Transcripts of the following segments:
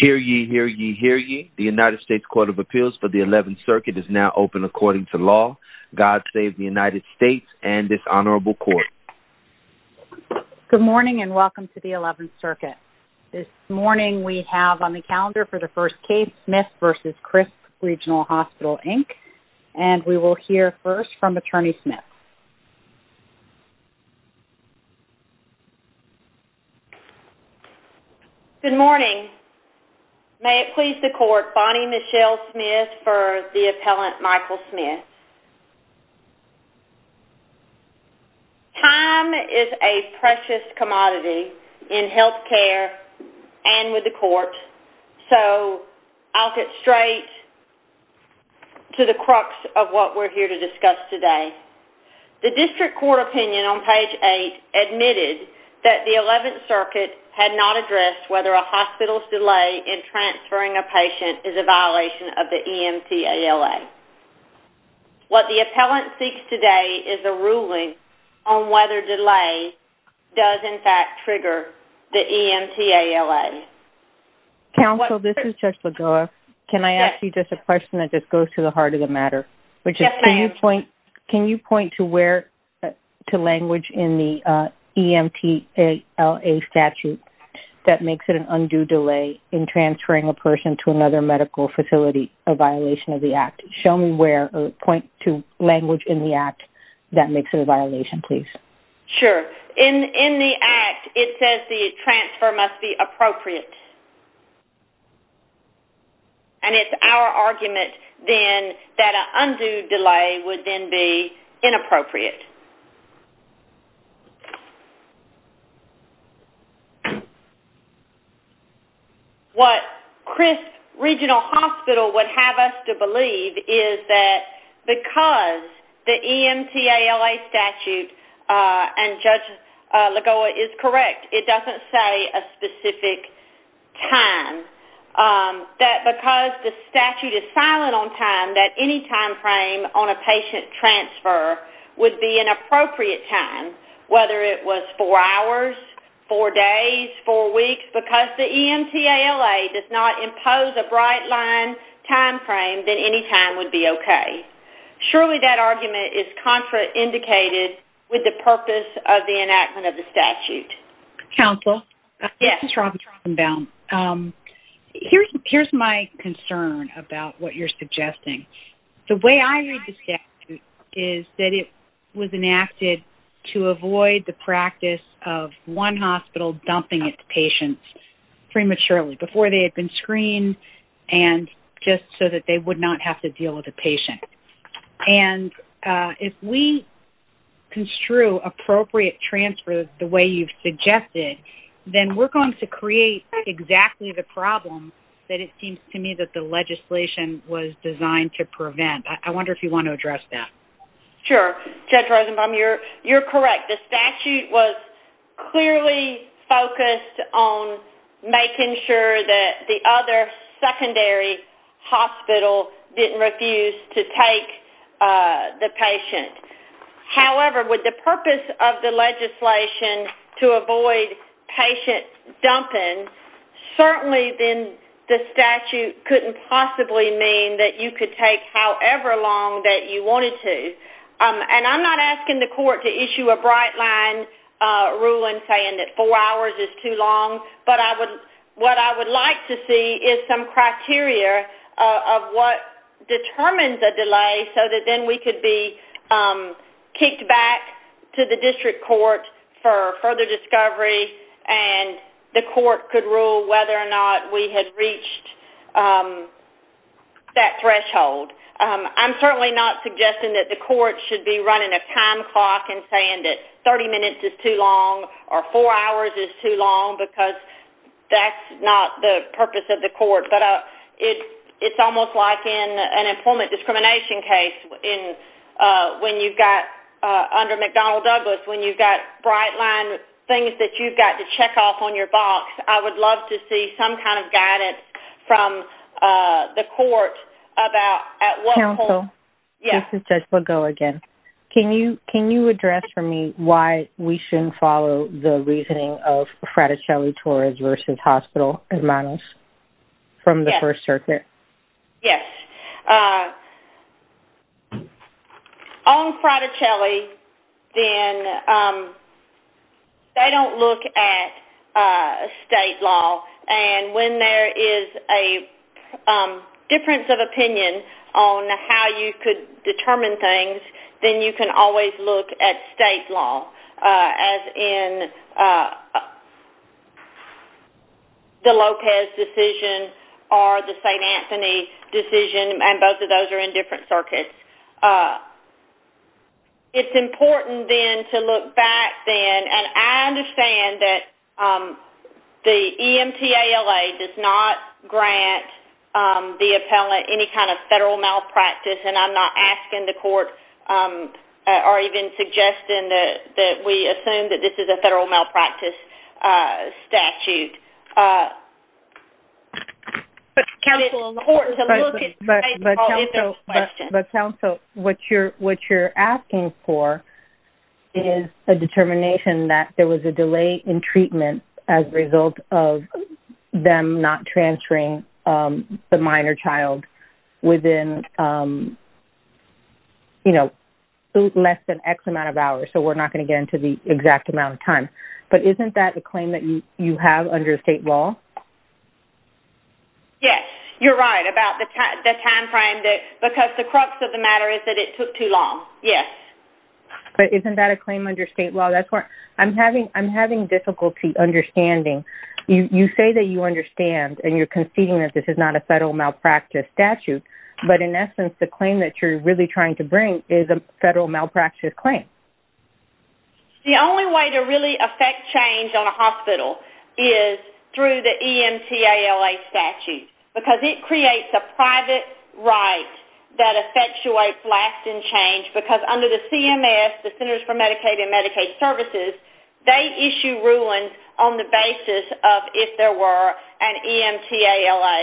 Hear ye, hear ye, hear ye. The United States Court of Appeals for the 11th Circuit is now open according to law. God save the United States and this honorable court. Good morning and welcome to the 11th Circuit. This morning we have on the calendar for the first case, Smith v. Crisp Regional Hospital, Inc. And we will hear first from Attorney Smith. Good morning. May it please the court, Bonnie Michelle Smith for the appellant Michael Smith. Time is a precious commodity in health care and with the court. So I'll get straight to the crux of what we're here to discuss today. The district court opinion on page 8 admitted that the 11th Circuit had not addressed whether a hospital's delay in transferring a patient is a violation of the EMTALA. What the appellant seeks today is a ruling on whether delay does in fact trigger the EMTALA. Counsel, this is Judge Lagoa. Can I ask you just a question that just goes to the heart of the matter? Yes, ma'am. Can you point to where to language in the EMTALA statute that makes it an undue delay in transferring a person to another medical facility a violation of the act? Show me where or point to language in the act that makes it a violation, please. Sure. In the act, it says the transfer must be appropriate. And it's our argument then that an undue delay would then be inappropriate. What Crisp Regional Hospital would have us to believe is that because the EMTALA statute and Judge Lagoa is correct, it doesn't say a specific time. That because the statute is silent on time, that any time frame on a patient transfer would be an appropriate time, whether it was four hours, four days, four weeks. Because the EMTALA does not impose a bright line time frame, then any time would be okay. Surely that argument is contraindicated with the purpose of the enactment of the statute. Counsel? Yes. This is Robin Trostenbaum. Here's my concern about what you're suggesting. The way I read the statute is that it was enacted to avoid the practice of one hospital dumping its patients prematurely before they had been screened and just so that they would not have to deal with a patient. And if we construe appropriate transfers the way you've suggested, then we're going to create exactly the problem that it seems to me that the legislation was designed to prevent. I wonder if you want to address that. Sure. Judge Rosenbaum, you're correct. The statute was clearly focused on making sure that the other secondary hospital didn't refuse to take the patient. However, with the purpose of the legislation to avoid patient dumping, certainly then the statute couldn't possibly mean that you could take however long that you wanted to. I'm not asking the court to issue a bright line ruling saying that four hours is too long, but what I would like to see is some criteria of what determines a delay so that then we could be kicked back to the district court for further discovery and the court could rule whether or not we had reached that threshold. I'm certainly not suggesting that the court should be running a time clock and saying that 30 minutes is too long or four hours is too long because that's not the purpose of the court. But it's almost like in an employment discrimination case when you've got, under McDonnell Douglas, when you've got bright line things that you've got to check off on your box. I would love to see some kind of guidance from the court about at what point- Counsel. Yes. This is Jessica Lago again. Can you address for me why we shouldn't follow the reasoning of Fraticelli-Torres versus hospital models? Yes. From the First Circuit. Yes. or the St. Anthony decision, and both of those are in different circuits. It's important then to look back then, and I understand that the EMTALA does not grant the appellant any kind of federal malpractice, and I'm not asking the court or even suggesting that we assume that this is a federal malpractice statute. But counsel, what you're asking for is a determination that there was a delay in treatment as a result of them not transferring the minor child within, you know, less than X amount of hours, so we're not going to get into the exact amount of time. But isn't that a claim that you have under state law? Yes. You're right about the timeframe, because the crux of the matter is that it took too long. Yes. But isn't that a claim under state law? I'm having difficulty understanding. You say that you understand, and you're conceding that this is not a federal malpractice statute, but in essence, the claim that you're really trying to bring is a federal malpractice claim. The only way to really affect change on a hospital is through the EMTALA statute, because it creates a private right that effectuates lasting change, because under the CMS, the Centers for Medicaid and Medicaid Services, they issue rulings on the basis of if there were an EMTALA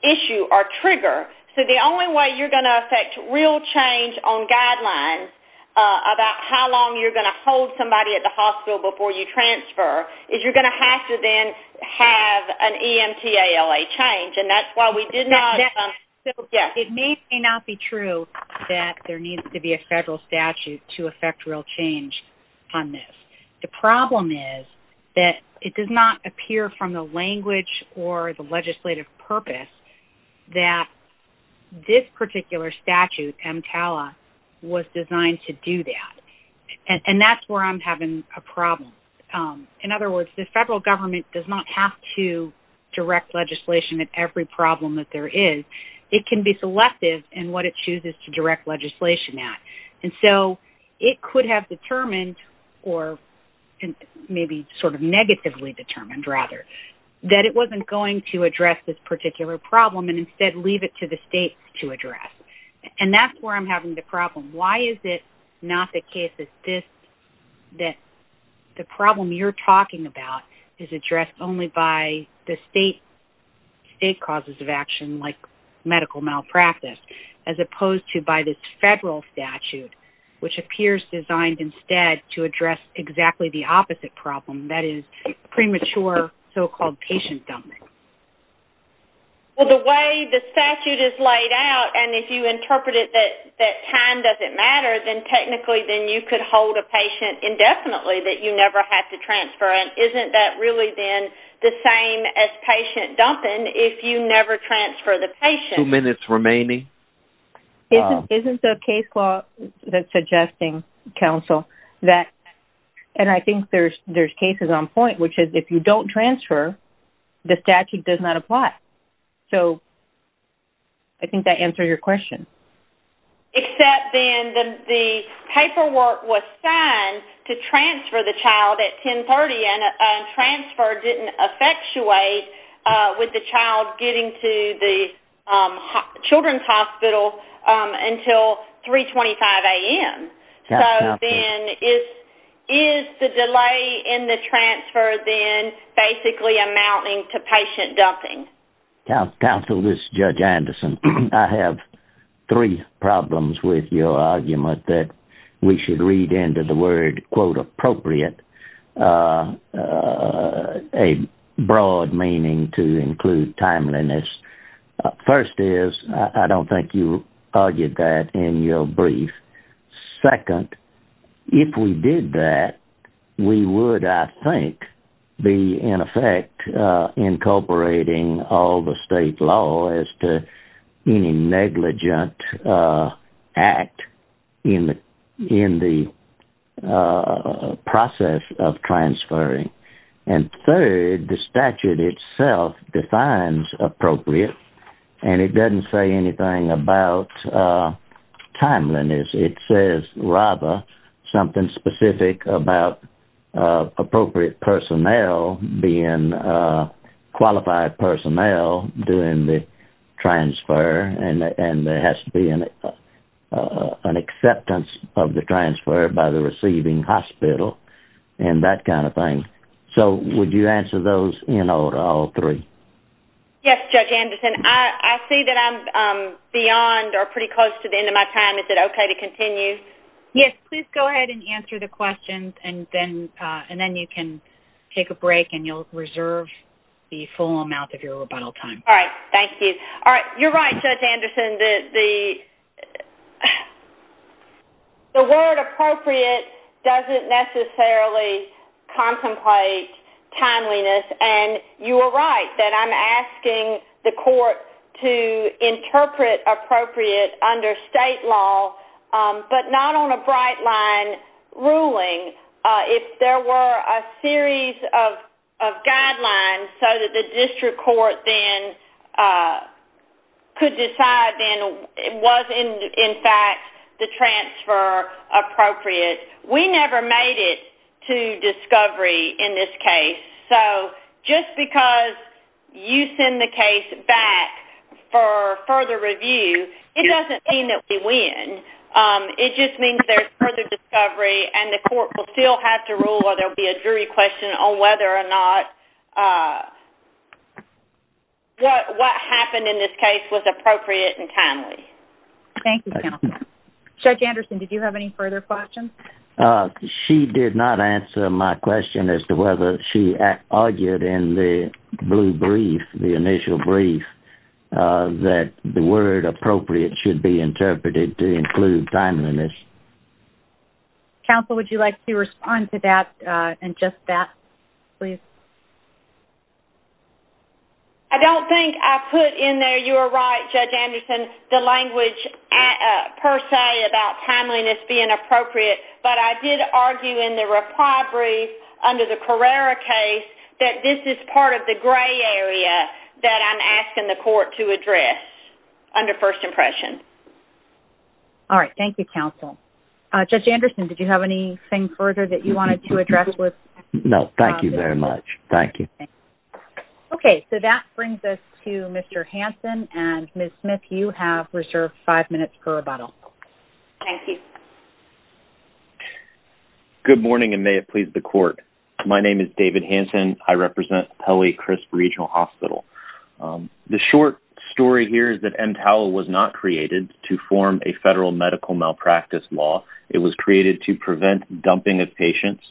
issue or trigger. So the only way you're going to affect real change on guidelines about how long you're going to hold somebody at the hospital before you transfer is you're going to have to then have an EMTALA change, and that's why we did not. It may or may not be true that there needs to be a federal statute to affect real change on this. The problem is that it does not appear from the language or the legislative purpose that this particular statute, EMTALA, was designed to do that. And that's where I'm having a problem. In other words, the federal government does not have to direct legislation at every problem that there is. It can be selective in what it chooses to direct legislation at. And so it could have determined, or maybe sort of negatively determined rather, that it wasn't going to address this particular problem and instead leave it to the states to address. And that's where I'm having the problem. Why is it not the case that the problem you're talking about is addressed only by the state causes of action, like medical malpractice, as opposed to by this federal statute, which appears designed instead to address exactly the opposite problem, that is premature so-called patient dumping? Well, the way the statute is laid out, and if you interpret it that time doesn't matter, then technically then you could hold a patient indefinitely that you never have to transfer. And isn't that really then the same as patient dumping if you never transfer the patient? Two minutes remaining. Isn't the case law that's suggesting, counsel, that, and I think there's cases on point, which is if you don't transfer, the statute does not apply. So I think that answers your question. Except then the paperwork was signed to transfer the child at 10.30 and transfer didn't effectuate with the child getting to the children's hospital until 3.25 a.m. So then is the delay in the transfer then basically amounting to patient dumping? Counsel, this is Judge Anderson. I have three problems with your argument that we should read into the word, quote, appropriate, a broad meaning to include timeliness. First is I don't think you argued that in your brief. Second, if we did that, we would, I think, be in effect incorporating all the state law as to any negligent act in the process of transferring. And third, the statute itself defines appropriate, and it doesn't say anything about timeliness. It says rather something specific about appropriate personnel being qualified personnel during the transfer and there has to be an acceptance of the transfer by the receiving hospital and that kind of thing. So would you answer those in order, all three? Yes, Judge Anderson. I see that I'm beyond or pretty close to the end of my time. Is it okay to continue? Yes, please go ahead and answer the questions and then you can take a break and you'll reserve the full amount of your rebuttal time. All right, thank you. All right, you're right, Judge Anderson. The word appropriate doesn't necessarily contemplate timeliness, and you are right that I'm asking the court to interpret appropriate under state law, but not on a bright line ruling. If there were a series of guidelines so that the district court then could decide then was, in fact, the transfer appropriate? We never made it to discovery in this case. So just because you send the case back for further review, it doesn't mean that we win. It just means there's further discovery and the court will still have to rule or there will be a jury question on whether or not what happened in this case was appropriate and timely. Thank you, counsel. Judge Anderson, did you have any further questions? She did not answer my question as to whether she argued in the blue brief, the initial brief, that the word appropriate should be interpreted to include timeliness. Counsel, would you like to respond to that and just that, please? I don't think I put in there, you are right, Judge Anderson, the language per se about timeliness being appropriate, but I did argue in the reply brief under the Carrera case that this is part of the gray area that I'm asking the court to address under first impression. All right, thank you, counsel. Judge Anderson, did you have anything further that you wanted to address? No, thank you very much. Thank you. Okay, so that brings us to Mr. Hanson, and Ms. Smith, you have reserved five minutes per rebuttal. Thank you. Good morning, and may it please the court. My name is David Hanson. I represent Pelley-Crisp Regional Hospital. The short story here is that MTOWL was not created to form a federal medical malpractice law. It was created to prevent dumping of patients,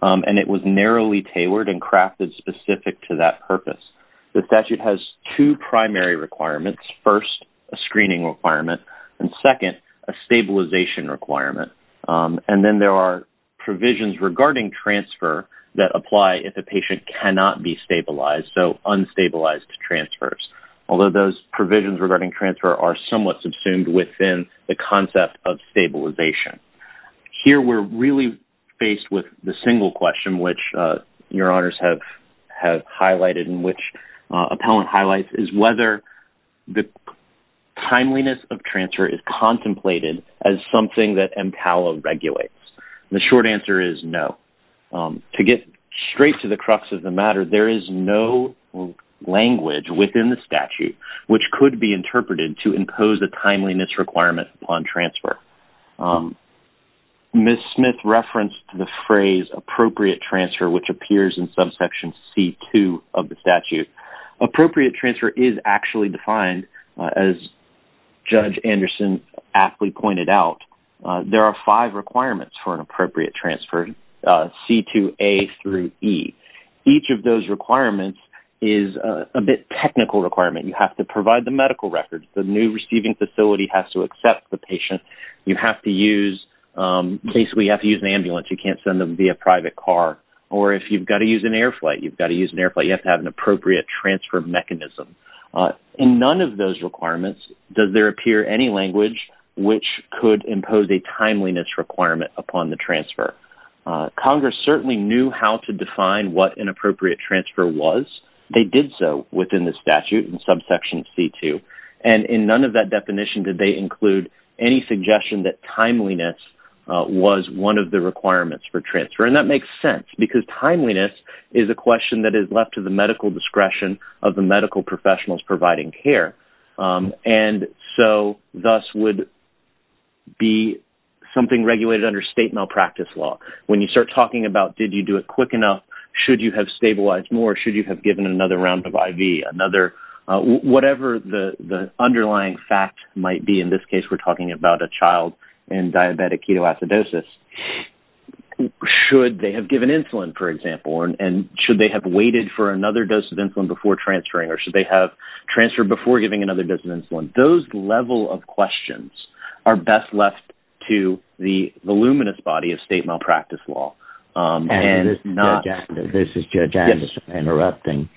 and it was narrowly tailored and crafted specific to that purpose. The statute has two primary requirements. First, a screening requirement, and second, a stabilization requirement, and then there are provisions regarding transfer that apply if a patient cannot be stabilized, so unstabilized transfers, although those provisions regarding transfer are somewhat subsumed within the concept of stabilization. Here we're really faced with the single question, which your honors have highlighted and which appellant highlights is whether the timeliness of transfer is contemplated as something that MTOWL regulates. The short answer is no. To get straight to the crux of the matter, there is no language within the statute which could be interpreted to impose a timeliness requirement upon transfer. Ms. Smith referenced the phrase appropriate transfer, which appears in subsection C-2 of the statute. Appropriate transfer is actually defined, as Judge Anderson aptly pointed out. There are five requirements for an appropriate transfer, C-2A through E. Each of those requirements is a bit technical requirement. You have to provide the medical records. The new receiving facility has to accept the patient. You have to use an ambulance. You can't send them via private car, or if you've got to use an air flight, you've got to use an air flight. You have to have an appropriate transfer mechanism. In none of those requirements does there appear any language which could impose a timeliness requirement upon the transfer. Congress certainly knew how to define what an appropriate transfer was. They did so within the statute in subsection C-2. In none of that definition did they include any suggestion that timeliness was one of the requirements for transfer. And that makes sense because timeliness is a question that is left to the medical discretion of the medical professionals providing care. And so thus would be something regulated under state malpractice law. When you start talking about did you do it quick enough, should you have stabilized more, should you have given another round of IV, whatever the underlying fact might be, in this case we're talking about a child in diabetic ketoacidosis, should they have given insulin, for example, and should they have waited for another dose of insulin before transferring, or should they have transferred before giving another dose of insulin. Those level of questions are best left to the voluminous body of state malpractice law. And this is Judge Anderson interrupting.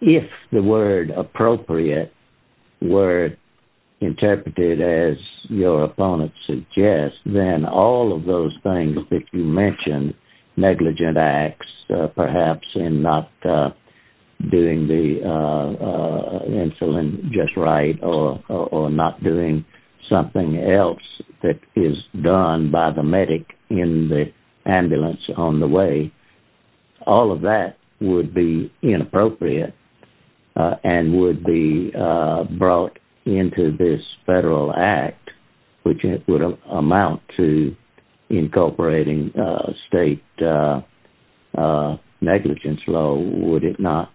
If the word appropriate were interpreted as your opponent suggests, then all of those things that you mentioned, negligent acts perhaps in not doing the insulin just right or not doing something else that is done by the medic in the ambulance on the way, all of that would be inappropriate and would be brought into this federal act, which would amount to incorporating state negligence law, would it not?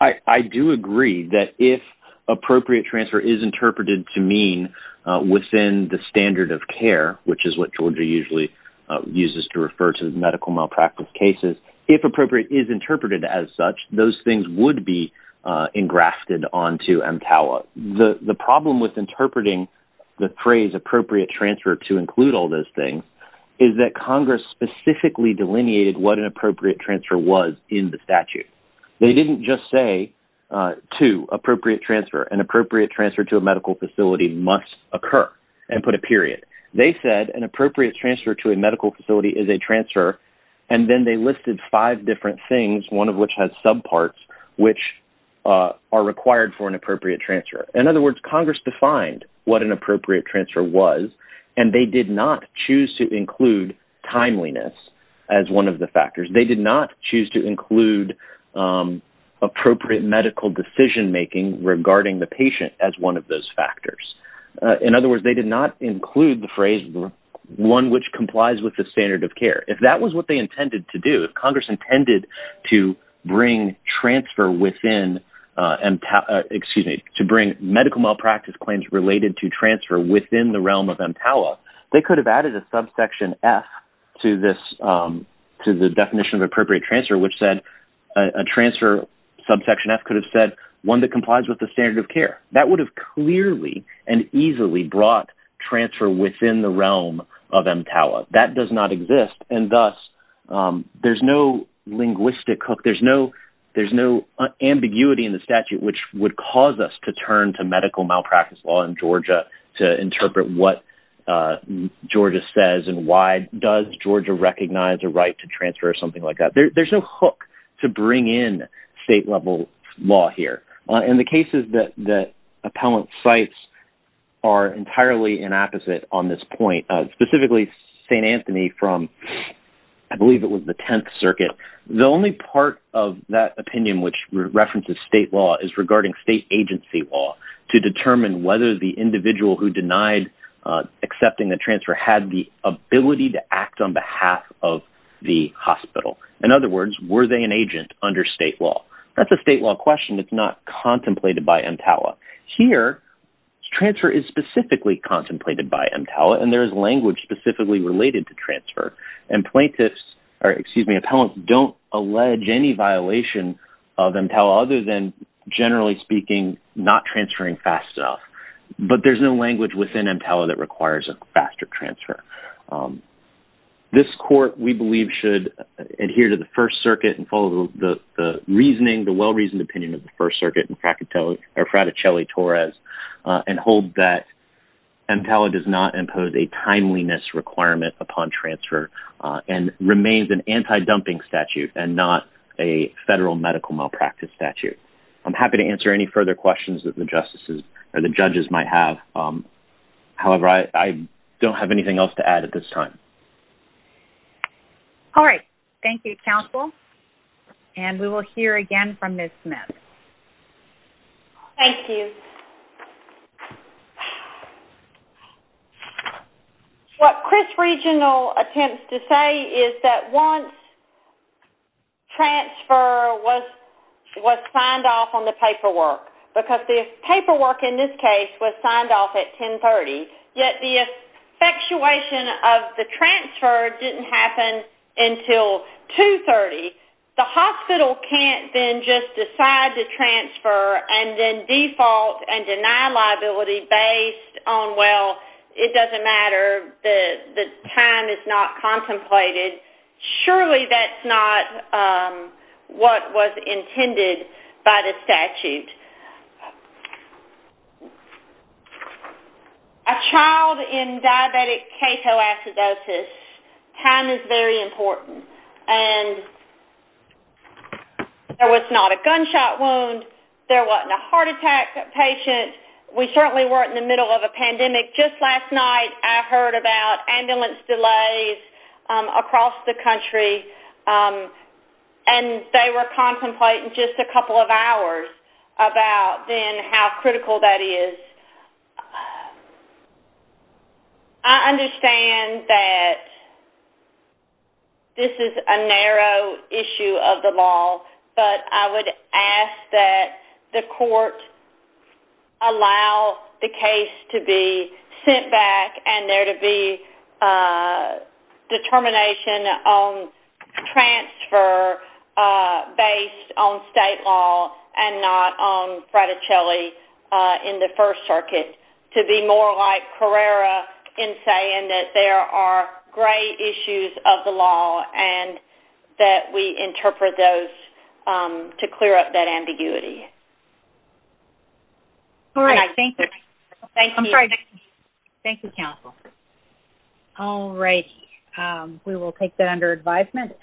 I do agree that if appropriate transfer is interpreted to mean within the standard of care, which is what Georgia usually uses to refer to medical malpractice cases, if appropriate is interpreted as such, those things would be engrafted onto MTALA. The problem with interpreting the phrase appropriate transfer to include all those things is that Congress specifically delineated what an appropriate transfer was in the statute. They didn't just say, two, appropriate transfer, an appropriate transfer to a medical facility must occur and put a period. They said an appropriate transfer to a medical facility is a transfer, and then they listed five different things, one of which has subparts, which are required for an appropriate transfer. In other words, Congress defined what an appropriate transfer was, and they did not choose to include timeliness as one of the factors. They did not choose to include appropriate medical decision-making regarding the patient as one of those factors. In other words, they did not include the phrase one which complies with the standard of care. If that was what they intended to do, if Congress intended to bring medical malpractice claims related to transfer within the realm of MTALA, they could have added a subsection F to the definition of appropriate transfer, which said a transfer subsection F could have said one that complies with the standard of care. That would have clearly and easily brought transfer within the realm of MTALA. That does not exist, and thus there's no linguistic hook. There's no ambiguity in the statute which would cause us to turn to medical malpractice law in Georgia to interpret what Georgia says and why does Georgia recognize a right to transfer or something like that. There's no hook to bring in state-level law here. In the cases that appellant cites are entirely inapposite on this point, specifically St. Anthony from I believe it was the Tenth Circuit. The only part of that opinion which references state law is regarding state agency law to determine whether the individual who denied accepting the transfer had the ability to act on behalf of the hospital. In other words, were they an agent under state law? That's a state law question that's not contemplated by MTALA. Here, transfer is specifically contemplated by MTALA, and there is language specifically related to transfer. And plaintiffs, or excuse me, appellants don't allege any violation of MTALA other than generally speaking not transferring fast enough. But there's no language within MTALA that requires a faster transfer. This court, we believe, should adhere to the First Circuit and follow the well-reasoned opinion of the First Circuit and Fraticelli-Torres and hold that MTALA does not impose a timeliness requirement upon transfer and remains an anti-dumping statute and not a federal medical malpractice statute. I'm happy to answer any further questions that the judges might have. However, I don't have anything else to add at this time. All right. Thank you, counsel. And we will hear again from Ms. Smith. Thank you. What Chris Regional attempts to say is that once transfer was signed off on the paperwork, because the paperwork in this case was signed off at 10.30, yet the effectuation of the transfer didn't happen until 2.30. The hospital can't then just decide to transfer and then default and deny liability based on, well, it doesn't matter, the time is not contemplated. Surely that's not what was intended by the statute. A child in diabetic ketoacidosis, time is very important. And there was not a gunshot wound. There wasn't a heart attack patient. We certainly weren't in the middle of a pandemic. Just last night I heard about ambulance delays across the country, and they were contemplating just a couple of hours about then how critical that is. I understand that this is a narrow issue of the law, but I would ask that the court allow the case to be sent back and there to be determination on transfer based on state law and not on Fraticelli in the First Circuit, to be more like Carrera in saying that there are gray issues of the law and that we interpret those to clear up that ambiguity. All right, thank you. Thank you. I'm sorry. Thank you, counsel. All righty. We will take that under advisement.